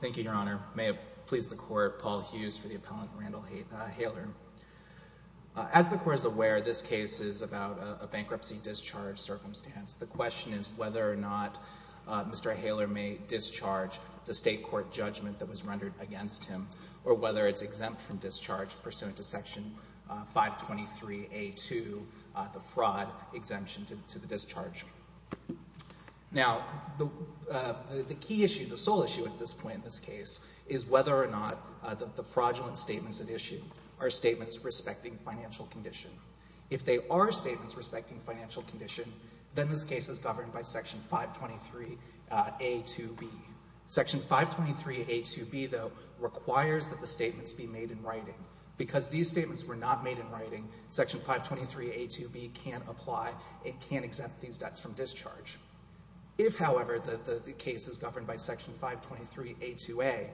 Thank you, Your Honor. May it please the Court, Paul Hughes for the appellant Randall Haler. As the Court is aware, this case is about a bankruptcy discharge circumstance. The question is whether or not Mr. Haler may discharge the state court judgment that was rendered against him, or whether it's exempt from discharge pursuant to Section 523A2, the fraud exemption to the discharge. Now, the key issue, the sole issue at this point in this case is whether or not the fraudulent statements at issue are statements respecting financial condition. If they are statements respecting financial condition, then this case is governed by Section 523A2B. Section 523A2B, though, requires that the statements be made in writing. Because these statements were not made in writing, Section 523A2B can't apply. It can't exempt these debts from discharge. If, however, the case is governed by Section 523A2A,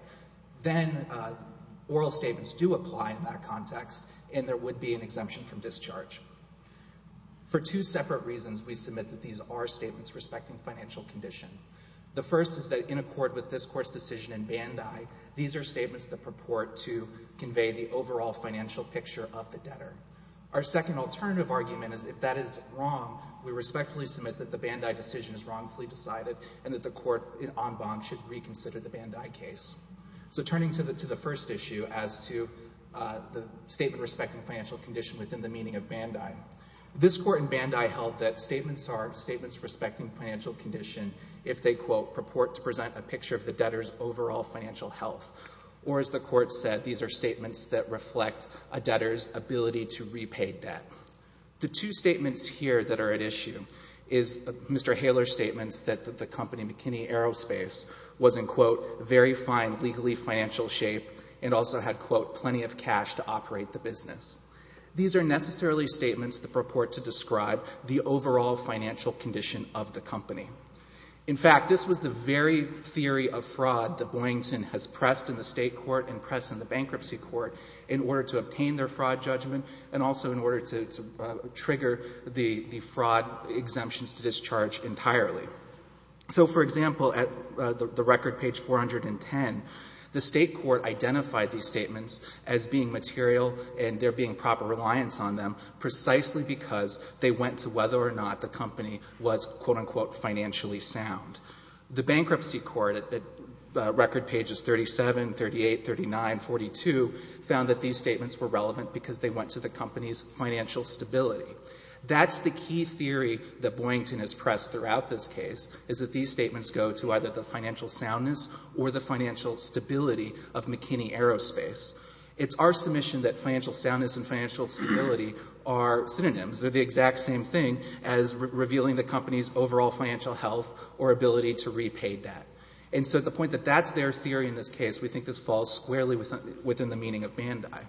then oral statements do apply in that context, and there would be an exemption from discharge. For two separate reasons, we submit that these are statements respecting financial condition. The first is that in accord with this Court's decision in Bandai, these are statements that represent the overall financial picture of the debtor. Our second alternative argument is if that is wrong, we respectfully submit that the Bandai decision is wrongfully decided and that the Court, en banc, should reconsider the Bandai case. So turning to the first issue as to the statement respecting financial condition within the meaning of Bandai, this Court in Bandai held that statements are statements respecting financial condition if they, quote, purport to present a picture of the debtor's overall financial health. Or as the Court said, these are statements that reflect a debtor's ability to repay debt. The two statements here that are at issue is Mr. Haler's statements that the company McKinney Aerospace was, in quote, very fine legally financial shape and also had, quote, plenty of cash to operate the business. These are necessarily statements that purport to describe the overall financial condition of the company. In fact, this was the very theory of fraud that Boyington has pressed in the State court and pressed in the bankruptcy court in order to obtain their fraud judgment and also in order to trigger the fraud exemptions to discharge entirely. So for example, at the record page 410, the State court identified these statements as being material and there being proper reliance on them precisely because they went to whether or not the company was, quote, unquote, financially sound. The bankruptcy court at record pages 37, 38, 39, 42 found that these statements were relevant because they went to the company's financial stability. That's the key theory that Boyington has pressed throughout this case is that these statements go to either the financial soundness or the financial stability of McKinney Aerospace. It's our submission that financial soundness and financial stability are synonyms. They're the exact same thing as revealing the company's overall financial health or ability to repay debt. And so at the point that that's their theory in this case, we think this falls squarely within the meaning of Bandai.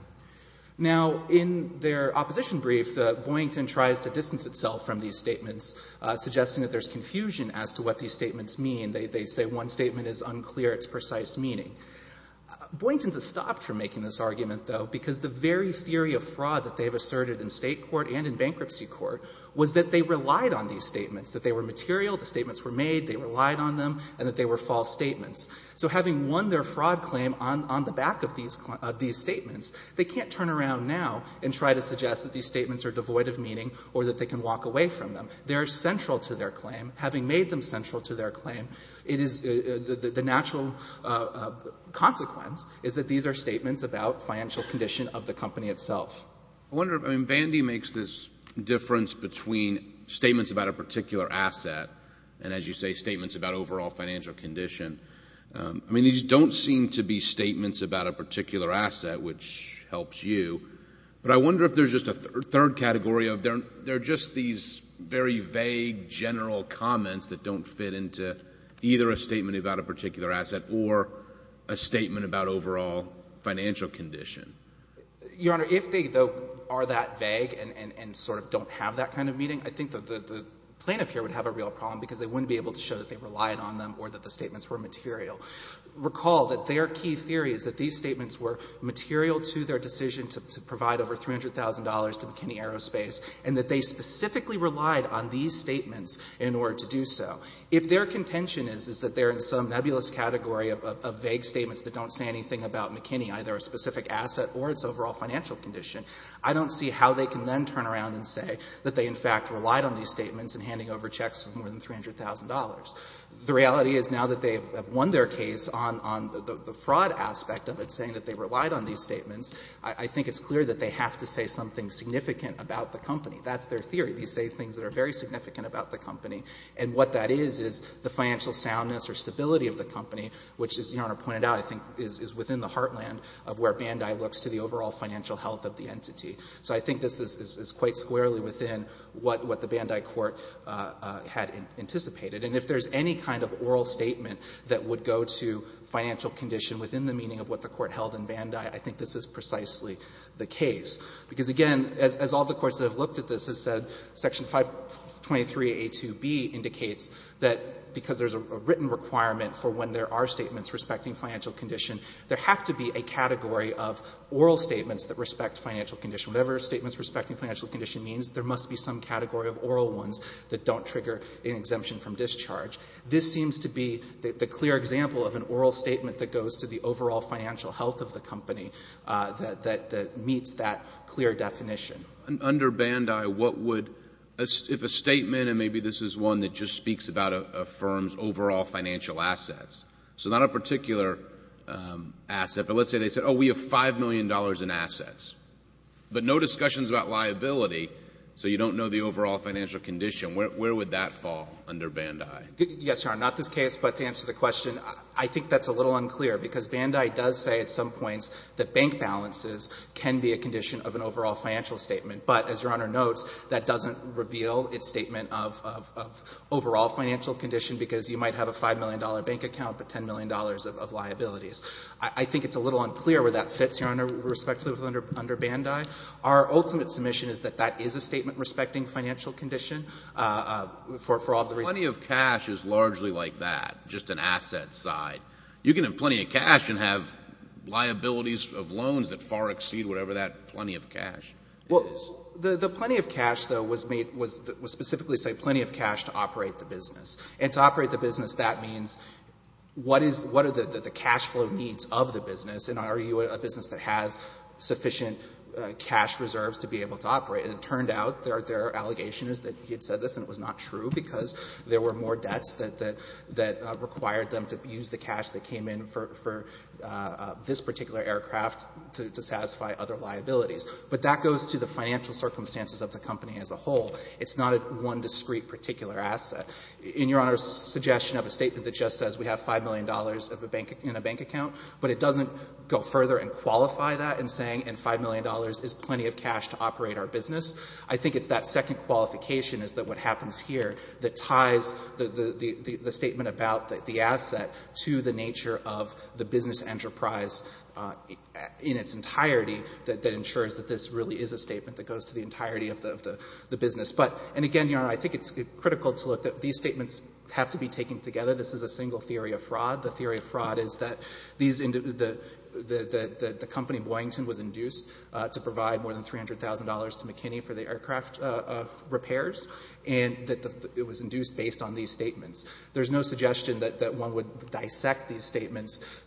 Now in their opposition brief, Boyington tries to distance itself from these statements, suggesting that there's confusion as to what these statements mean. They say one statement is unclear, it's precise meaning. Boyington has stopped from making this argument, though, because the very theory of fraud that they have asserted in State court and in bankruptcy court was that they relied on these statements, that they were material, the statements were made, they relied on them, and that they were false statements. So having won their fraud claim on the back of these statements, they can't turn around now and try to suggest that these statements are devoid of meaning or that they can walk away from them. They're central to their claim. Having made them central to their claim, it is the natural consequence is that these are statements about financial condition of the company itself. I wonder if, I mean, Bandai makes this difference between statements about a particular asset and, as you say, statements about overall financial condition. I mean, these don't seem to be statements about a particular asset, which helps you. But I wonder if there's just a third category of they're just these very vague, general comments that don't fit into either a statement about a particular asset or a statement about overall financial condition. Your Honor, if they, though, are that vague and sort of don't have that kind of meaning, I think that the plaintiff here would have a real problem, because they wouldn't be able to show that they relied on them or that the statements were material. Recall that their key theory is that these statements were material to their decision to provide over $300,000 to McKinney Aerospace, and that they specifically relied on these statements in order to do so. If their contention is that they're in some nebulous category of vague statements that don't say anything about McKinney, either a specific asset or its overall financial condition, I don't see how they can then turn around and say that they, in fact, relied on these statements in handing over checks for more than $300,000. The reality is now that they have won their case on the fraud aspect of it, saying that they relied on these statements, I think it's clear that they have to say something significant about the company. That's their theory. They say things that are very significant about the company, and what that is, is the financial soundness or stability of the company, which, as Your Honor pointed out, I think is within the heartland of where Bandai looks to the overall financial health of the entity. So I think this is quite squarely within what the Bandai court had anticipated. And if there's any kind of oral statement that would go to financial condition within the meaning of what the court held in Bandai, I think this is precisely the case. Because, again, as all the courts that have looked at this have said, Section 523a2b indicates that because there's a written requirement for when there are statements respecting financial condition, there has to be a category of oral statements that respect financial condition. Whatever statements respecting financial condition means, there must be some category of oral ones that don't trigger an exemption from discharge. This seems to be the clear example of an oral statement that goes to the overall financial health of the company that meets that clear definition. Under Bandai, what would, if a statement, and maybe this is one that just speaks about a firm's overall financial assets, so not a particular asset, but let's say they said, oh, we have $5 million in assets, but no discussions about liability, so you don't know the overall financial condition. Where would that fall under Bandai? Yes, Your Honor. Not this case, but to answer the question, I think that's a little unclear. Because Bandai does say at some points that bank balances can be a condition of an overall financial statement. But, as Your Honor notes, that doesn't reveal its statement of overall financial condition, because you might have a $5 million bank account, but $10 million of liabilities. I think it's a little unclear where that fits, Your Honor, respectively, under Bandai. Our ultimate submission is that that is a statement respecting financial condition for all of the reasons. Plenty of cash is largely like that, just an asset side. You can have plenty of cash and have liabilities of loans that far exceed whatever that plenty of cash is. The plenty of cash, though, was specifically saying plenty of cash to operate the business. And to operate the business, that means what are the cash flow needs of the business? And are you a business that has sufficient cash reserves to be able to operate? It turned out their allegation is that he had said this, and it was not true, because there were more debts that required them to use the cash that came in for this particular aircraft to satisfy other liabilities. But that goes to the financial circumstances of the company as a whole. It's not one discrete particular asset. In Your Honor's suggestion of a statement that just says we have $5 million in a bank account, but it doesn't go further and qualify that in saying, and $5 million is plenty of cash to operate our business. I think it's that second qualification is that what happens here that ties the statement about the asset to the nature of the business enterprise in its entirety that ensures that this really is a statement that goes to the entirety of the business. And again, Your Honor, I think it's critical to look at these statements have to be taken together. This is a single theory of fraud. The theory of fraud is that these individuals, the company, Boyington, was induced to provide more than $300,000 to McKinney for the aircraft repairs, and that it was induced based on these statements. There's no suggestion that one would dissect these statements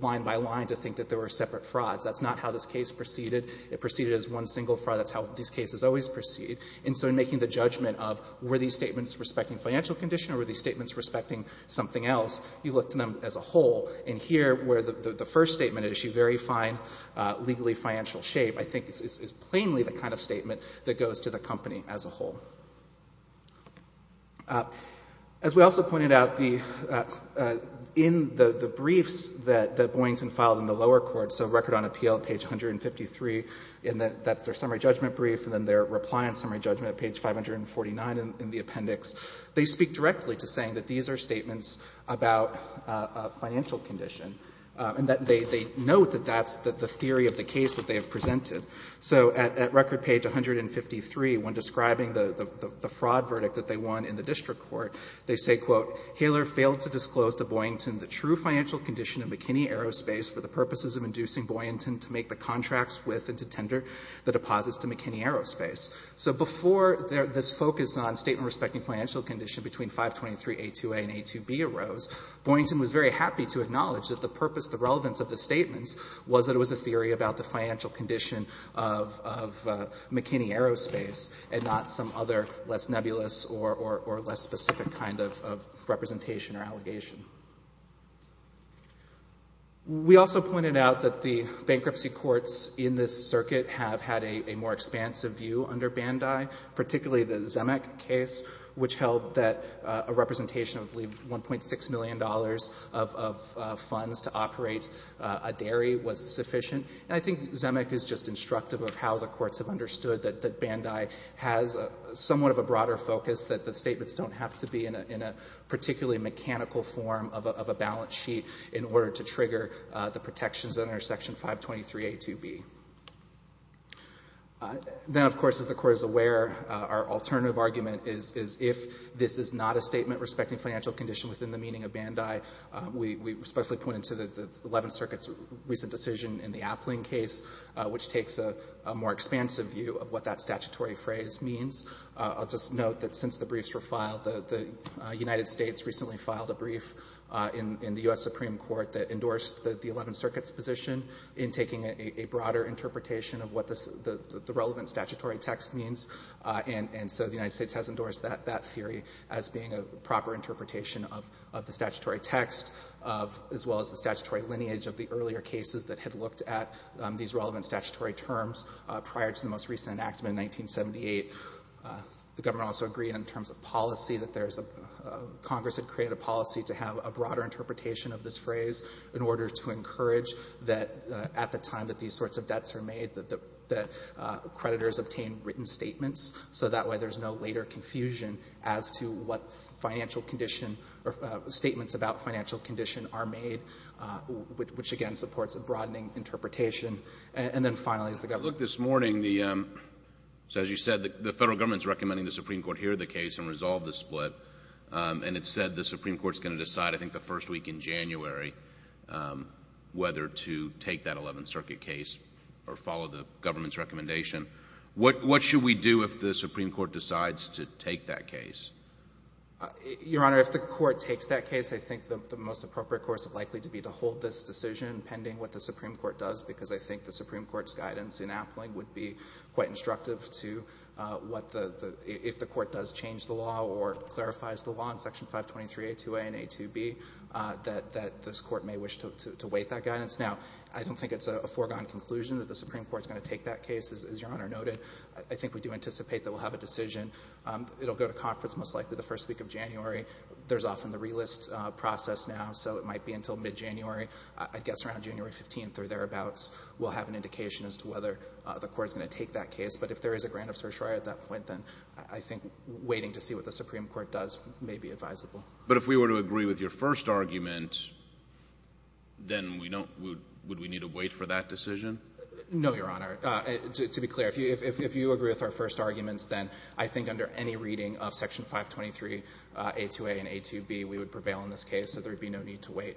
line by line to think that there were separate frauds. That's not how this case proceeded. It proceeded as one single fraud. That's how these cases always proceed. And so in making the judgment of were these statements respecting financial condition or were these statements respecting something else, you look to them as a whole. And here, where the first statement issued very fine legally financial shape, I think is plainly the kind of statement that goes to the company as a whole. As we also pointed out, in the briefs that Boyington filed in the lower court, so Record on Appeal, page 153, and that's their summary judgment brief, and then their reply on summary judgment, page 549 in the appendix, they speak directly to saying that these are statements about a financial condition, and that they note that that's the theory of the case that they have presented. So at Record, page 153, when describing the fraud verdict that they won in the district court, they say, quote, ''Hayler failed to disclose to Boyington the true financial condition of McKinney Aerospace for the purposes of inducing Boyington to make the contracts with and to tender the deposits to McKinney Aerospace.'' So before this focus on statement respecting financial condition between 523A2A and A2B arose, Boyington was very happy to acknowledge that the purpose, the relevance of the statements was that it was a theory about the financial condition of McKinney Aerospace and not some other less nebulous or less specific kind of representation or allegation. We also pointed out that the bankruptcy courts in this circuit have had a more expansive view under Bandai, particularly the Zemeck case, which held that a representation of, I believe, $1.6 million of funds to operate a dairy was sufficient. And I think Zemeck is just instructive of how the courts have understood that Bandai has somewhat of a broader focus, that the statements don't have to be in a particularly mechanical form of a balance sheet in order to trigger the protections under Section 523A2B. Then, of course, as the Court is aware, our alternative argument is if this is not a statement respecting financial condition within the meaning of Bandai, we respectfully point it to the Eleventh Circuit's recent decision in the Appling case, which takes a more expansive view of what that statutory phrase means. I'll just note that since the briefs were filed, the United States recently filed a broader interpretation of what the relevant statutory text means, and so the United States has endorsed that theory as being a proper interpretation of the statutory text, as well as the statutory lineage of the earlier cases that had looked at these relevant statutory terms prior to the most recent enactment in 1978. The government also agreed in terms of policy that there's a—Congress had created a policy to have a broader interpretation of this phrase in order to encourage that at the time that these sorts of debts are made, that the creditors obtain written statements, so that way there's no later confusion as to what financial condition or statements about financial condition are made, which again supports a broadening interpretation. And then finally, as the government— Look, this morning, the—so as you said, the Federal Government is recommending the Supreme Court hear the case and resolve the split, and it's said the Supreme Court's going to decide I think the first week in January whether to take that Eleventh Circuit case or follow the government's recommendation. What should we do if the Supreme Court decides to take that case? Your Honor, if the Court takes that case, I think the most appropriate course likely to be to hold this decision pending what the Supreme Court does because I think the Supreme Court's guidance in Appling would be quite instructive to what the—if the Court does change the law or clarifies the law in Section 523A2A and A2B, that this Court may wish to wait that guidance. Now, I don't think it's a foregone conclusion that the Supreme Court's going to take that case. As Your Honor noted, I think we do anticipate that we'll have a decision. It'll go to conference most likely the first week of January. There's often the relist process now, so it might be until mid-January. I guess around January 15th or thereabouts, we'll have an indication as to whether the Court's going to take that case. But if there is a grant of certiorari at that point, then I think waiting to see what the Supreme Court does may be advisable. But if we were to agree with your first argument, then we don't—would we need to wait for that decision? No, Your Honor. To be clear, if you agree with our first arguments, then I think under any reading of Section 523A2A and A2B, we would prevail in this case, so there would be no need to wait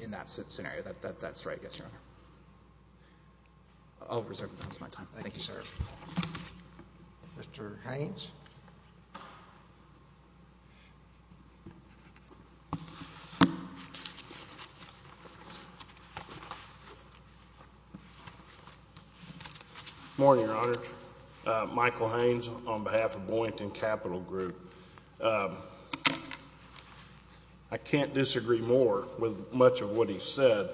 in that scenario. That's right, yes, Your Honor. I'll reserve the balance of my time. Thank you, sir. Mr. Haynes? Good morning, Your Honor. Michael Haynes on behalf of Boynton Capital Group. I can't disagree more with much of what he said.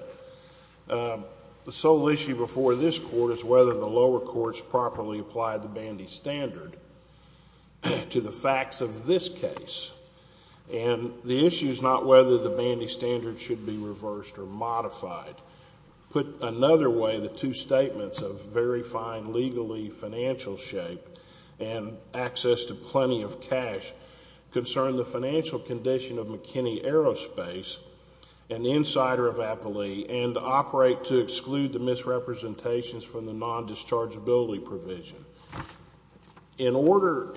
The sole issue before this Court is whether the lower courts properly applied the Bandy Standard to the facts of this case. And the issue is not whether the Bandy Standard should be reversed or modified. Put another way, the two statements of very fine legally financial shape and access to cash concern the financial condition of McKinney Aerospace and the insider of Appley and operate to exclude the misrepresentations from the non-dischargeability provision. In order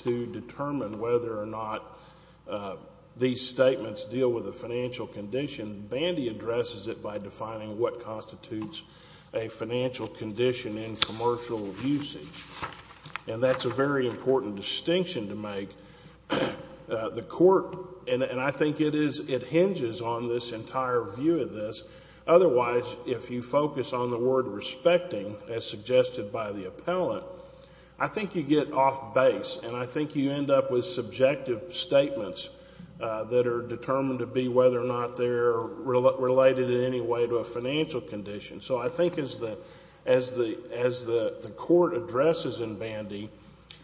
to determine whether or not these statements deal with the financial condition, Bandy addresses it by defining what constitutes a financial condition in commercial usage. And that's a very important distinction to make. The Court, and I think it is, it hinges on this entire view of this. Otherwise, if you focus on the word respecting, as suggested by the appellant, I think you get off base and I think you end up with subjective statements that are determined to be whether or not they're related in any way to a financial condition. So I think as the Court addresses in Bandy,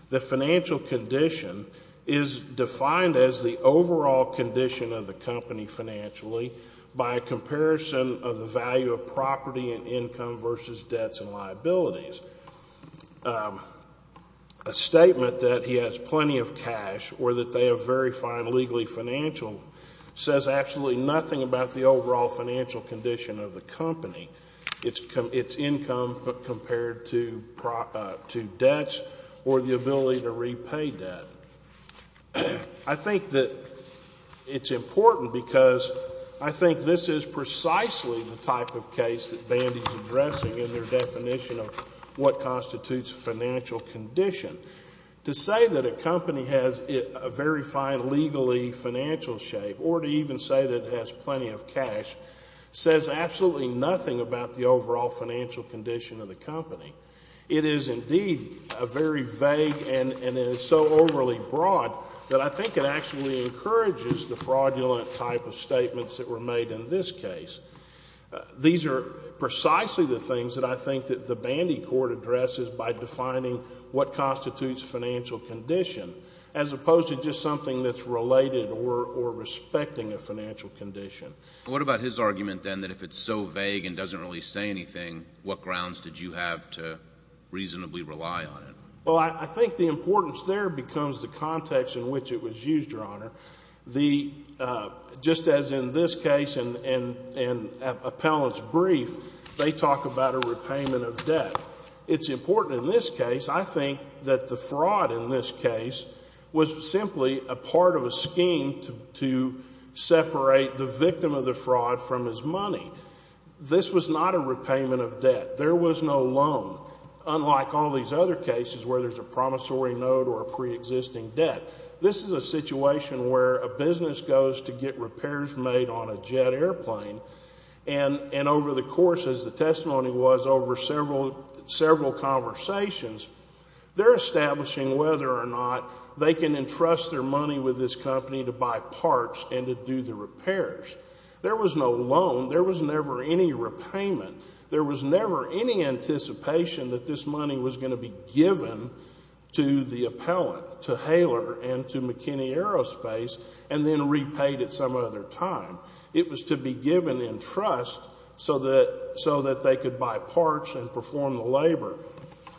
the financial condition is defined as the overall condition of the company financially by a comparison of the value of property and income versus debts and liabilities. A statement that he has plenty of cash or that they are very fine legally financial says absolutely nothing about the overall financial condition of the company, its income compared to debts or the ability to repay debt. I think that it's important because I think this is precisely the type of case that Bandy is addressing in their definition of what constitutes a financial condition. To say that a company has a very fine legally financial shape or to even say that it has plenty of cash says absolutely nothing about the overall financial condition of the company. It is, indeed, a very vague and so overly broad that I think it actually encourages the fraudulent type of statements that were made in this case. These are precisely the things that I think that the Bandy Court addresses by defining what constitutes financial condition as opposed to just something that's related or respecting a financial condition. What about his argument, then, that if it's so vague and doesn't really say anything, what grounds did you have to reasonably rely on it? Well, I think the importance there becomes the context in which it was used, Your Honor. Just as in this case and Appellant's brief, they talk about a repayment of debt. It's important in this case, I think, that the fraud in this case was simply a part of a scheme to separate the victim of the fraud from his money. This was not a repayment of debt. There was no loan, unlike all these other cases where there's a promissory note or a preexisting debt. This is a situation where a business goes to get repairs made on a jet airplane, and over the course, as the testimony was, over several conversations, they're establishing whether or not they can entrust their money with this company to buy parts and to do the repairs. There was no loan. There was never any repayment. There was never any anticipation that this money was going to be given to the appellant, to Haler and to McKinney Aerospace, and then repaid at some other time. It was to be given in trust so that they could buy parts and perform the labor.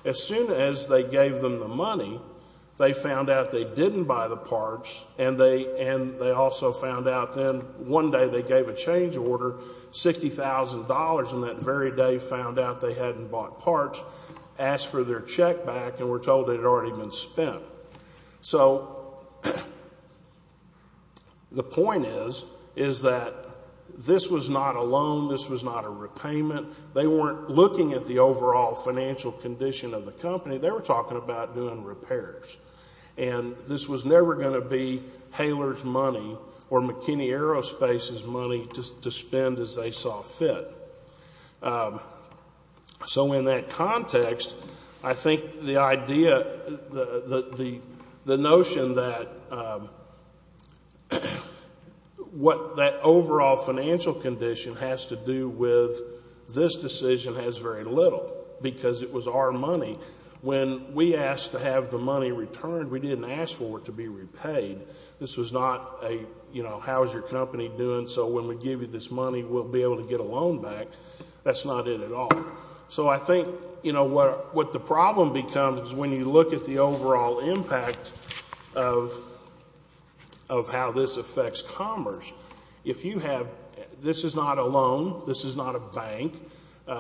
As soon as they gave them the money, they found out they didn't buy the parts, and they also found out then one day they gave a change order, $60,000, and that very day found out they hadn't bought parts, asked for their check back, and were told it had already been spent. So the point is that this was not a loan. This was not a repayment. They weren't looking at the overall financial condition of the company. They were talking about doing repairs. And this was never going to be Haler's money or McKinney Aerospace's money to spend as they saw fit. So in that context, I think the idea, the notion that what that overall financial condition has to do with this decision has very little because it was our money. When we asked to have the money returned, we didn't ask for it to be repaid. This was not a, you know, how is your company doing so when we give you this money we'll be able to get a loan back. That's not it at all. So I think, you know, what the problem becomes is when you look at the overall impact of how this affects commerce, if you have, this is not a loan, this is not a bank,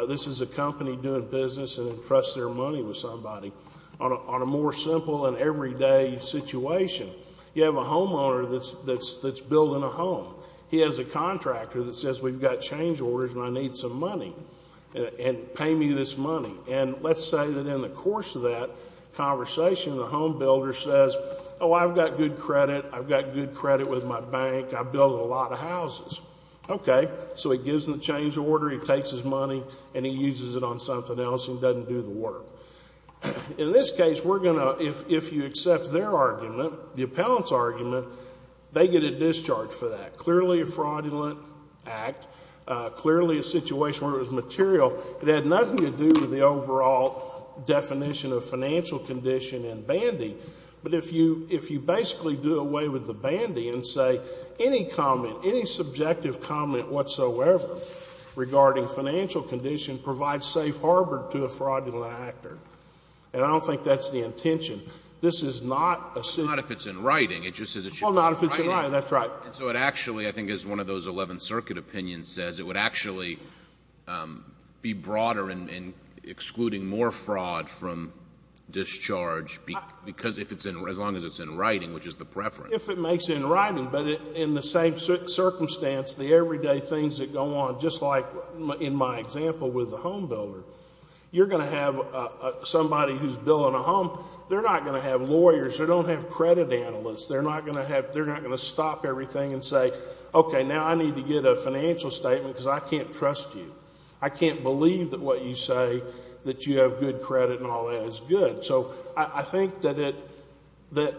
this is a company doing business and entrusts their money with somebody. On a more simple and everyday situation, you have a homeowner that's building a home. He has a contractor that says we've got change orders and I need some money and pay me this money. And let's say that in the course of that conversation the home builder says, oh, I've got good credit, I've got good credit with my bank, I build a lot of houses. Okay. So he gives them the change order, he takes his money, and he uses it on something else and doesn't do the work. In this case, we're going to, if you accept their argument, the appellant's argument, they get a discharge for that. Clearly a fraudulent act. Clearly a situation where it was material. It had nothing to do with the overall definition of financial condition and bandy. But if you basically do away with the bandy and say any comment, any subjective comment whatsoever regarding financial condition provides safe harbor to a fraudulent actor. And I don't think that's the intention. This is not a situation. But not if it's in writing. It just says it should be in writing. Well, not if it's in writing, that's right. And so it actually, I think as one of those 11th Circuit opinions says, it would actually be broader in excluding more fraud from discharge because if it's in, as long as it's in writing, which is the preference. If it makes it in writing, but in the same circumstance, the everyday things that go on, just like in my example with the home builder, you're going to have somebody who's billing a home. They're not going to have lawyers. They don't have credit analysts. They're not going to have, they're not going to stop everything and say, okay, now I need to get a financial statement because I can't trust you. I can't believe that what you say that you have good credit and all that is good. So I think that it, that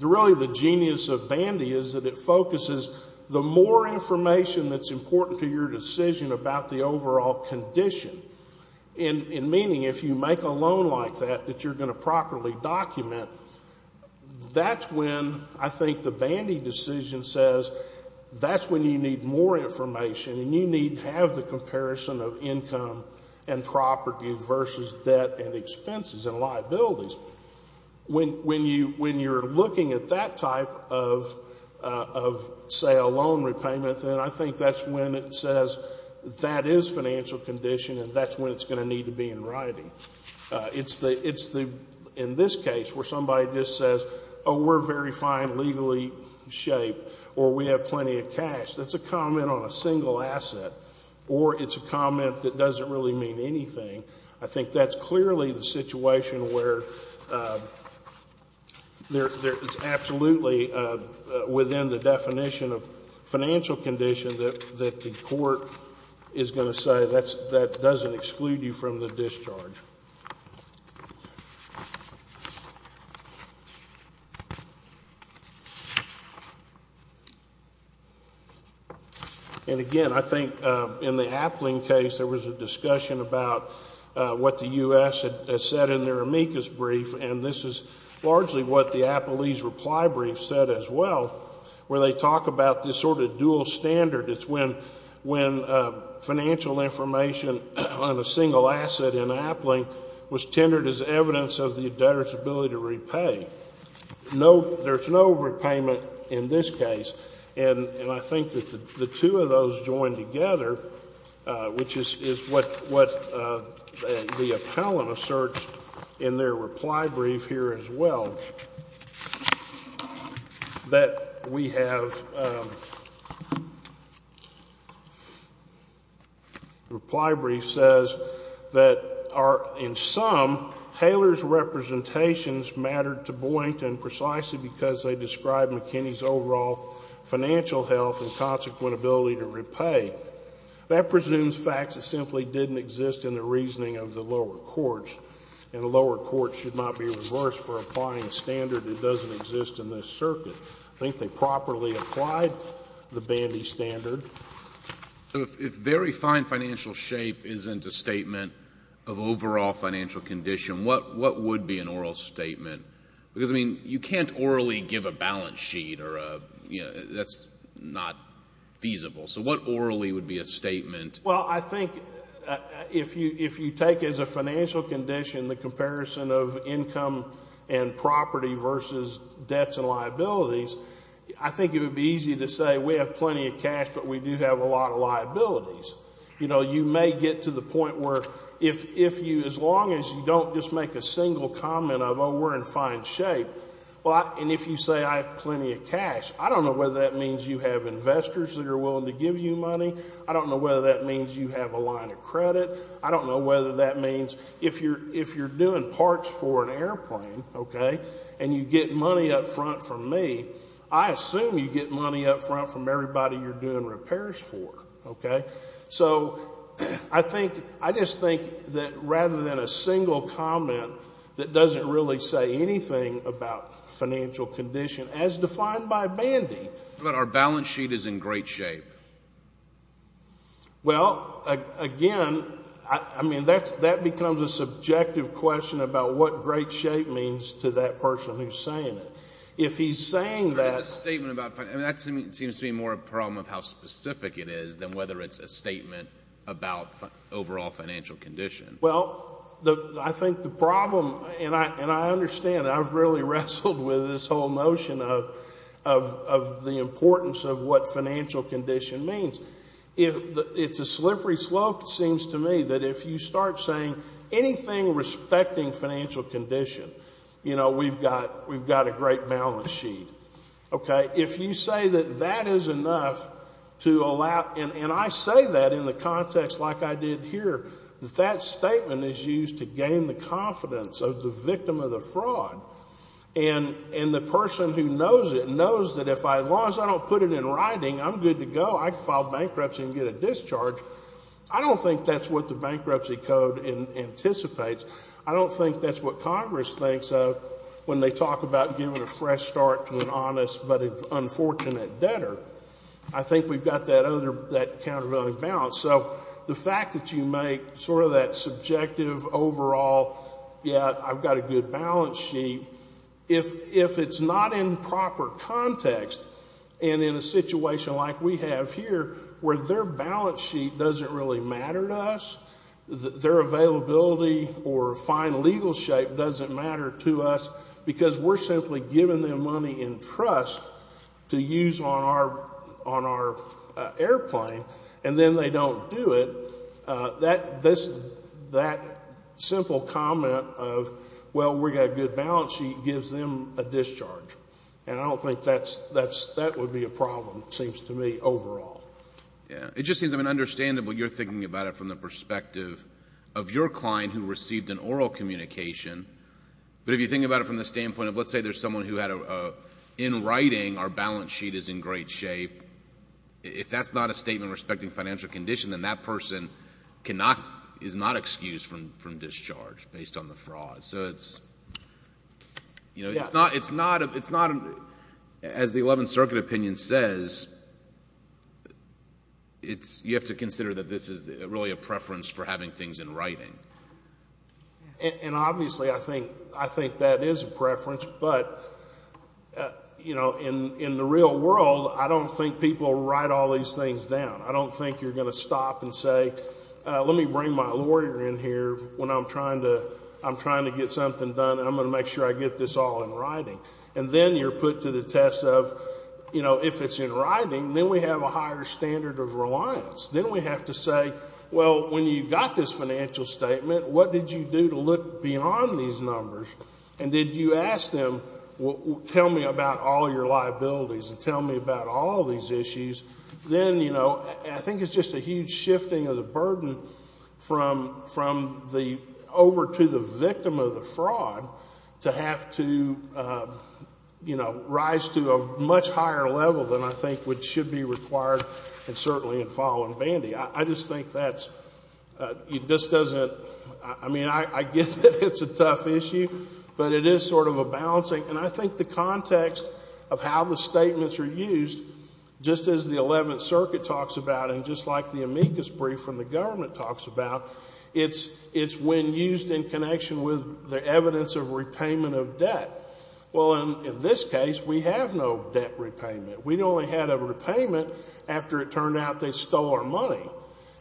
really the genius of Bandy is that it focuses the more information that's important to your decision about the overall condition, in meaning if you make a loan like that that you're going to properly document, that's when I think the Bandy decision says that's when you need more information and you need to have the comparison of income and property versus debt and expenses and liabilities. When you're looking at that type of, say, a loan repayment, then I think that's when it says that is financial condition and that's when it's going to need to be in writing. It's the, in this case where somebody just says, oh, we're very fine legally shaped or we have plenty of cash. That's a comment on a single asset. Or it's a comment that doesn't really mean anything. I think that's clearly the situation where it's absolutely within the definition of financial condition that the court is going to say that doesn't exclude you from the discharge. And again, I think in the Appling case there was a discussion about what the U.S. had said in their amicus brief and this is largely what the Appley's reply brief said as well, where they talk about this sort of dual standard. It's when financial information on a single asset in Appling was tendered as evidence of the debtor's ability to repay. There's no repayment in this case. And I think that the two of those joined together, which is what the appellant asserts in their reply brief here as well, that we have, the reply brief says that in sum, Taylor's representations mattered to Boynton precisely because they describe McKinney's overall financial health and consequent ability to repay. That presumes facts that simply didn't exist in the reasoning of the lower courts, and the lower courts should not be reversed for applying a standard that doesn't exist in this circuit. I think they properly applied the Bandy standard. So if very fine financial shape isn't a statement of overall financial condition, what would be an oral statement? Because, I mean, you can't orally give a balance sheet or a, you know, that's not feasible. So what orally would be a statement? Well, I think if you take as a financial condition the comparison of income and property versus debts and liabilities, I think it would be easy to say we have plenty of cash, but we do have a lot of liabilities. You know, you may get to the point where if you, as long as you don't just make a single comment of, oh, we're in fine shape, and if you say I have plenty of cash, I don't know whether that means you have investors that are willing to give you money. I don't know whether that means you have a line of credit. I don't know whether that means if you're doing parts for an airplane, okay, and you get money up front from me, I assume you get money up front from everybody you're doing repairs for, okay? So I think, I just think that rather than a single comment that doesn't really say anything about financial condition, as defined by Bandy. What about our balance sheet is in great shape? Well, again, I mean, that becomes a subjective question about what great shape means to that person who's saying it. If he's saying that. There's a statement about, I mean, that seems to be more a problem of how specific it is than whether it's a statement about overall financial condition. Well, I think the problem, and I understand, I've really wrestled with this whole notion of the importance of what financial condition means. It's a slippery slope, it seems to me, that if you start saying anything respecting financial condition, you know, we've got a great balance sheet, okay? If you say that that is enough to allow, and I say that in the context like I did here, that that statement is used to gain the confidence of the victim of the fraud. And the person who knows it knows that as long as I don't put it in writing, I'm good to go. I can file bankruptcy and get a discharge. I don't think that's what the Bankruptcy Code anticipates. I don't think that's what Congress thinks of when they talk about giving a fresh start to an honest but unfortunate debtor. I think we've got that countervailing balance. So the fact that you make sort of that subjective overall, yeah, I've got a good balance sheet, if it's not in proper context and in a situation like we have here where their balance sheet doesn't really matter to us, their availability or fine legal shape doesn't matter to us because we're simply giving them money in trust to use on our airplane, and then they don't do it, that simple comment of, well, we've got a good balance sheet, gives them a discharge. And I don't think that would be a problem, it seems to me, overall. Yeah. It just seems, I mean, understandable you're thinking about it from the perspective of your client who received an oral communication. But if you think about it from the standpoint of, let's say there's someone who had a, in writing, our balance sheet is in great shape. If that's not a statement respecting financial condition, then that person is not excused from discharge based on the fraud. So it's not, as the Eleventh Circuit opinion says, you have to consider that this is really a preference for having things in writing. And obviously I think that is a preference, but, you know, in the real world, I don't think people write all these things down. I don't think you're going to stop and say, let me bring my lawyer in here when I'm trying to get something done, and I'm going to make sure I get this all in writing. And then you're put to the test of, you know, if it's in writing, then we have a higher standard of reliance. Then we have to say, well, when you got this financial statement, what did you do to look beyond these numbers? And did you ask them, well, tell me about all your liabilities and tell me about all these issues? Then, you know, I think it's just a huge shifting of the burden from the, over to the victim of the fraud to have to, you know, rise to a much higher level than I think should be required, and certainly in falling bandy. I just think that's, it just doesn't, I mean, I get that it's a tough issue, but it is sort of a balancing. And I think the context of how the statements are used, just as the Eleventh Circuit talks about and just like the amicus brief from the government talks about, it's when used in connection with the evidence of repayment of debt. Well, in this case, we have no debt repayment. We only had a repayment after it turned out they stole our money.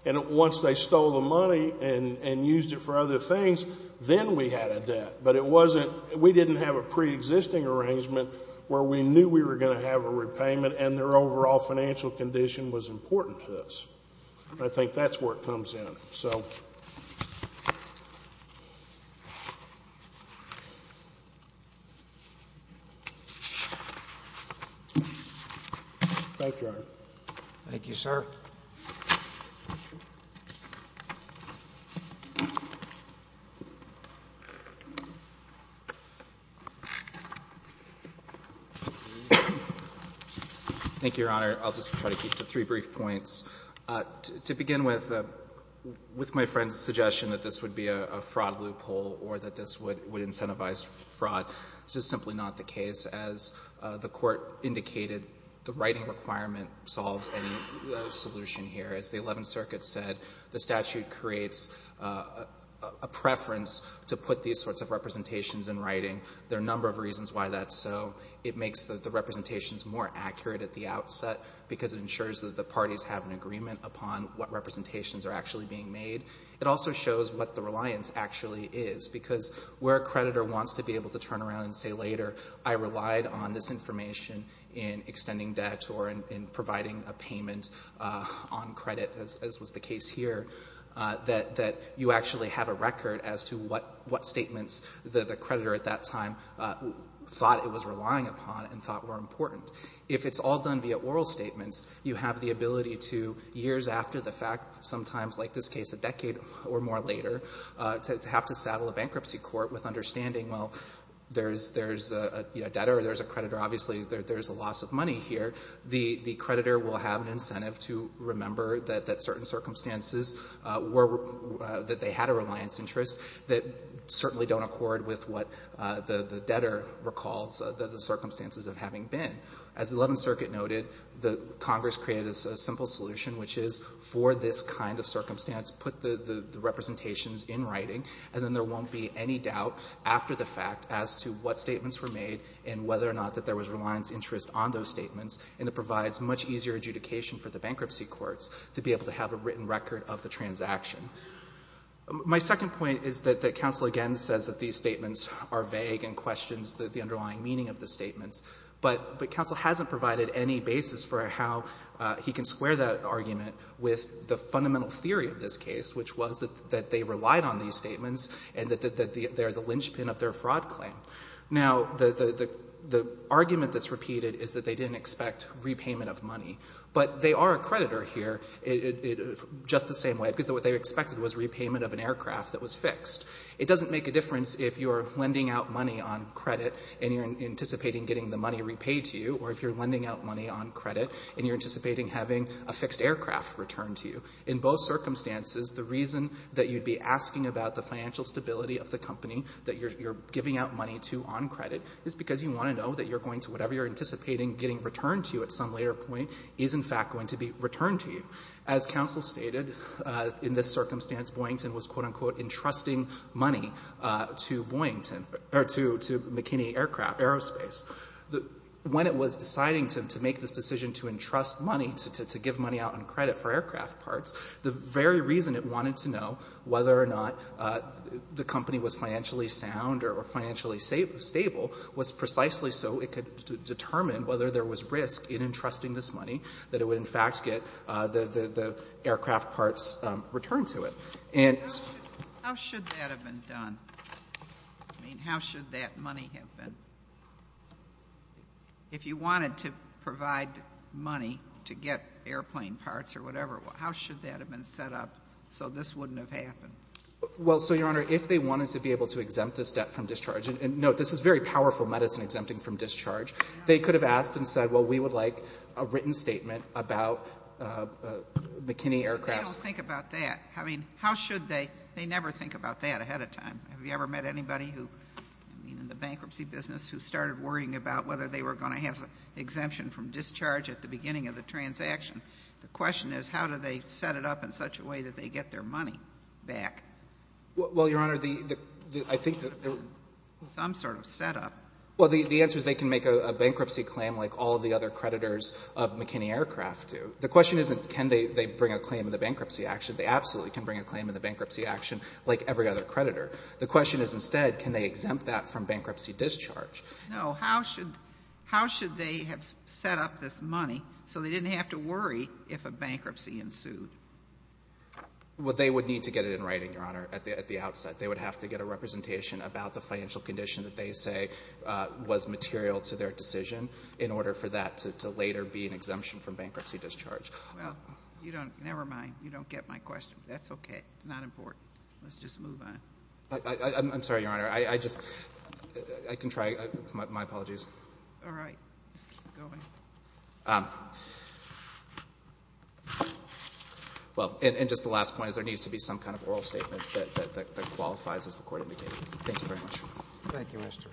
And once they stole the money and used it for other things, then we had a debt. But it wasn't, we didn't have a preexisting arrangement where we knew we were going to have a repayment and their overall financial condition was important to us. I think that's where it comes in, so. Thank you, Your Honor. Thank you, sir. Thank you, Your Honor. I'll just try to keep to three brief points. To begin with, with my friend's suggestion that this would be a fraud loophole or that this would incentivize fraud, this is simply not the case. As the Court indicated, the writing requirement solves any solution here. As the Eleventh Circuit said, the statute creates a preference to put these sorts of representations in writing. There are a number of reasons why that's so. It makes the representations more accurate at the outset because it ensures that the parties have an agreement upon what representations are actually being made. It also shows what the reliance actually is because where a creditor wants to be able to turn around and say later, I relied on this information in extending debt or in providing a payment on credit, as was the case here, that you actually have a record as to what statements the creditor at that time thought it was relying upon and thought were important. If it's all done via oral statements, you have the ability to, years after the fact, sometimes, like this case, a decade or more later, to have to saddle a bankruptcy court with understanding, well, there's a debtor or there's a creditor. Obviously, there's a loss of money here. The creditor will have an incentive to remember that certain circumstances that they had a reliance interest that certainly don't accord with what the debtor recalls the circumstances of having been. As the Eleventh Circuit noted, Congress created a simple solution, which is for this kind of circumstance, put the representations in writing, and then there won't be any doubt after the fact as to what statements were made and whether or not that there was a reliance interest on those statements, and it provides much easier adjudication for the bankruptcy courts to be able to have a written record of the transaction. My second point is that the counsel, again, says that these statements are vague and questions the underlying meaning of the statements, but counsel hasn't provided any basis for how he can square that argument with the fundamental theory of this case, which was that they relied on these statements and that they're the linchpin of their fraud claim. Now, the argument that's repeated is that they didn't expect repayment of money, but they are a creditor here just the same way, because what they expected was repayment of an aircraft that was fixed. It doesn't make a difference if you're lending out money on credit and you're anticipating getting the money repaid to you, or if you're lending out money on credit and you're anticipating having a fixed aircraft returned to you. In both circumstances, the reason that you'd be asking about the financial stability of the company that you're giving out money to on credit is because you want to know that you're going to whatever you're anticipating getting returned to you at some later point is in fact going to be returned to you. As counsel stated, in this circumstance, Boyington was, quote-unquote, entrusting money to Boyington or to McKinney Aircraft, Aerospace. When it was deciding to make this decision to entrust money, to give money out on credit for aircraft parts, the very reason it wanted to know whether or not the company was financially sound or financially stable was precisely so it could determine whether there was risk in entrusting this money, that it would in fact get the aircraft parts returned to it. And so the question is, how should that have been done? I mean, how should that money have been? If you wanted to provide money to get airplane parts or whatever, how should that have been set up so this wouldn't have happened? Well, so, Your Honor, if they wanted to be able to exempt this debt from discharge and note, this is very powerful medicine, exempting from discharge. They could have asked and said, well, we would like a written statement about McKinney Aircrafts. They don't think about that. I mean, how should they? They never think about that ahead of time. Have you ever met anybody who, I mean, in the bankruptcy business, who started worrying about whether they were going to have an exemption from discharge at the beginning of the transaction? The question is, how do they set it up in such a way that they get their money back? Well, Your Honor, the — I think the — Some sort of setup. Well, the answer is they can make a bankruptcy claim like all of the other creditors of McKinney Aircraft do. The question isn't can they bring a claim in the bankruptcy action. They absolutely can bring a claim in the bankruptcy action like every other creditor. The question is, instead, can they exempt that from bankruptcy discharge? No. So how should they have set up this money so they didn't have to worry if a bankruptcy ensued? Well, they would need to get it in writing, Your Honor, at the outset. They would have to get a representation about the financial condition that they say was material to their decision in order for that to later be an exemption from bankruptcy discharge. Well, you don't — never mind. You don't get my question. That's okay. It's not important. Let's just move on. I'm sorry, Your Honor. I just — I can try. My apologies. All right. Just keep going. Well, and just the last point is there needs to be some kind of oral statement that qualifies as the court indicated. Thank you very much. Thank you, Mr. Hughes. Thank you. Thank you. Thank you. Thank you. Thank you. Thank you. Thank you. Thank you.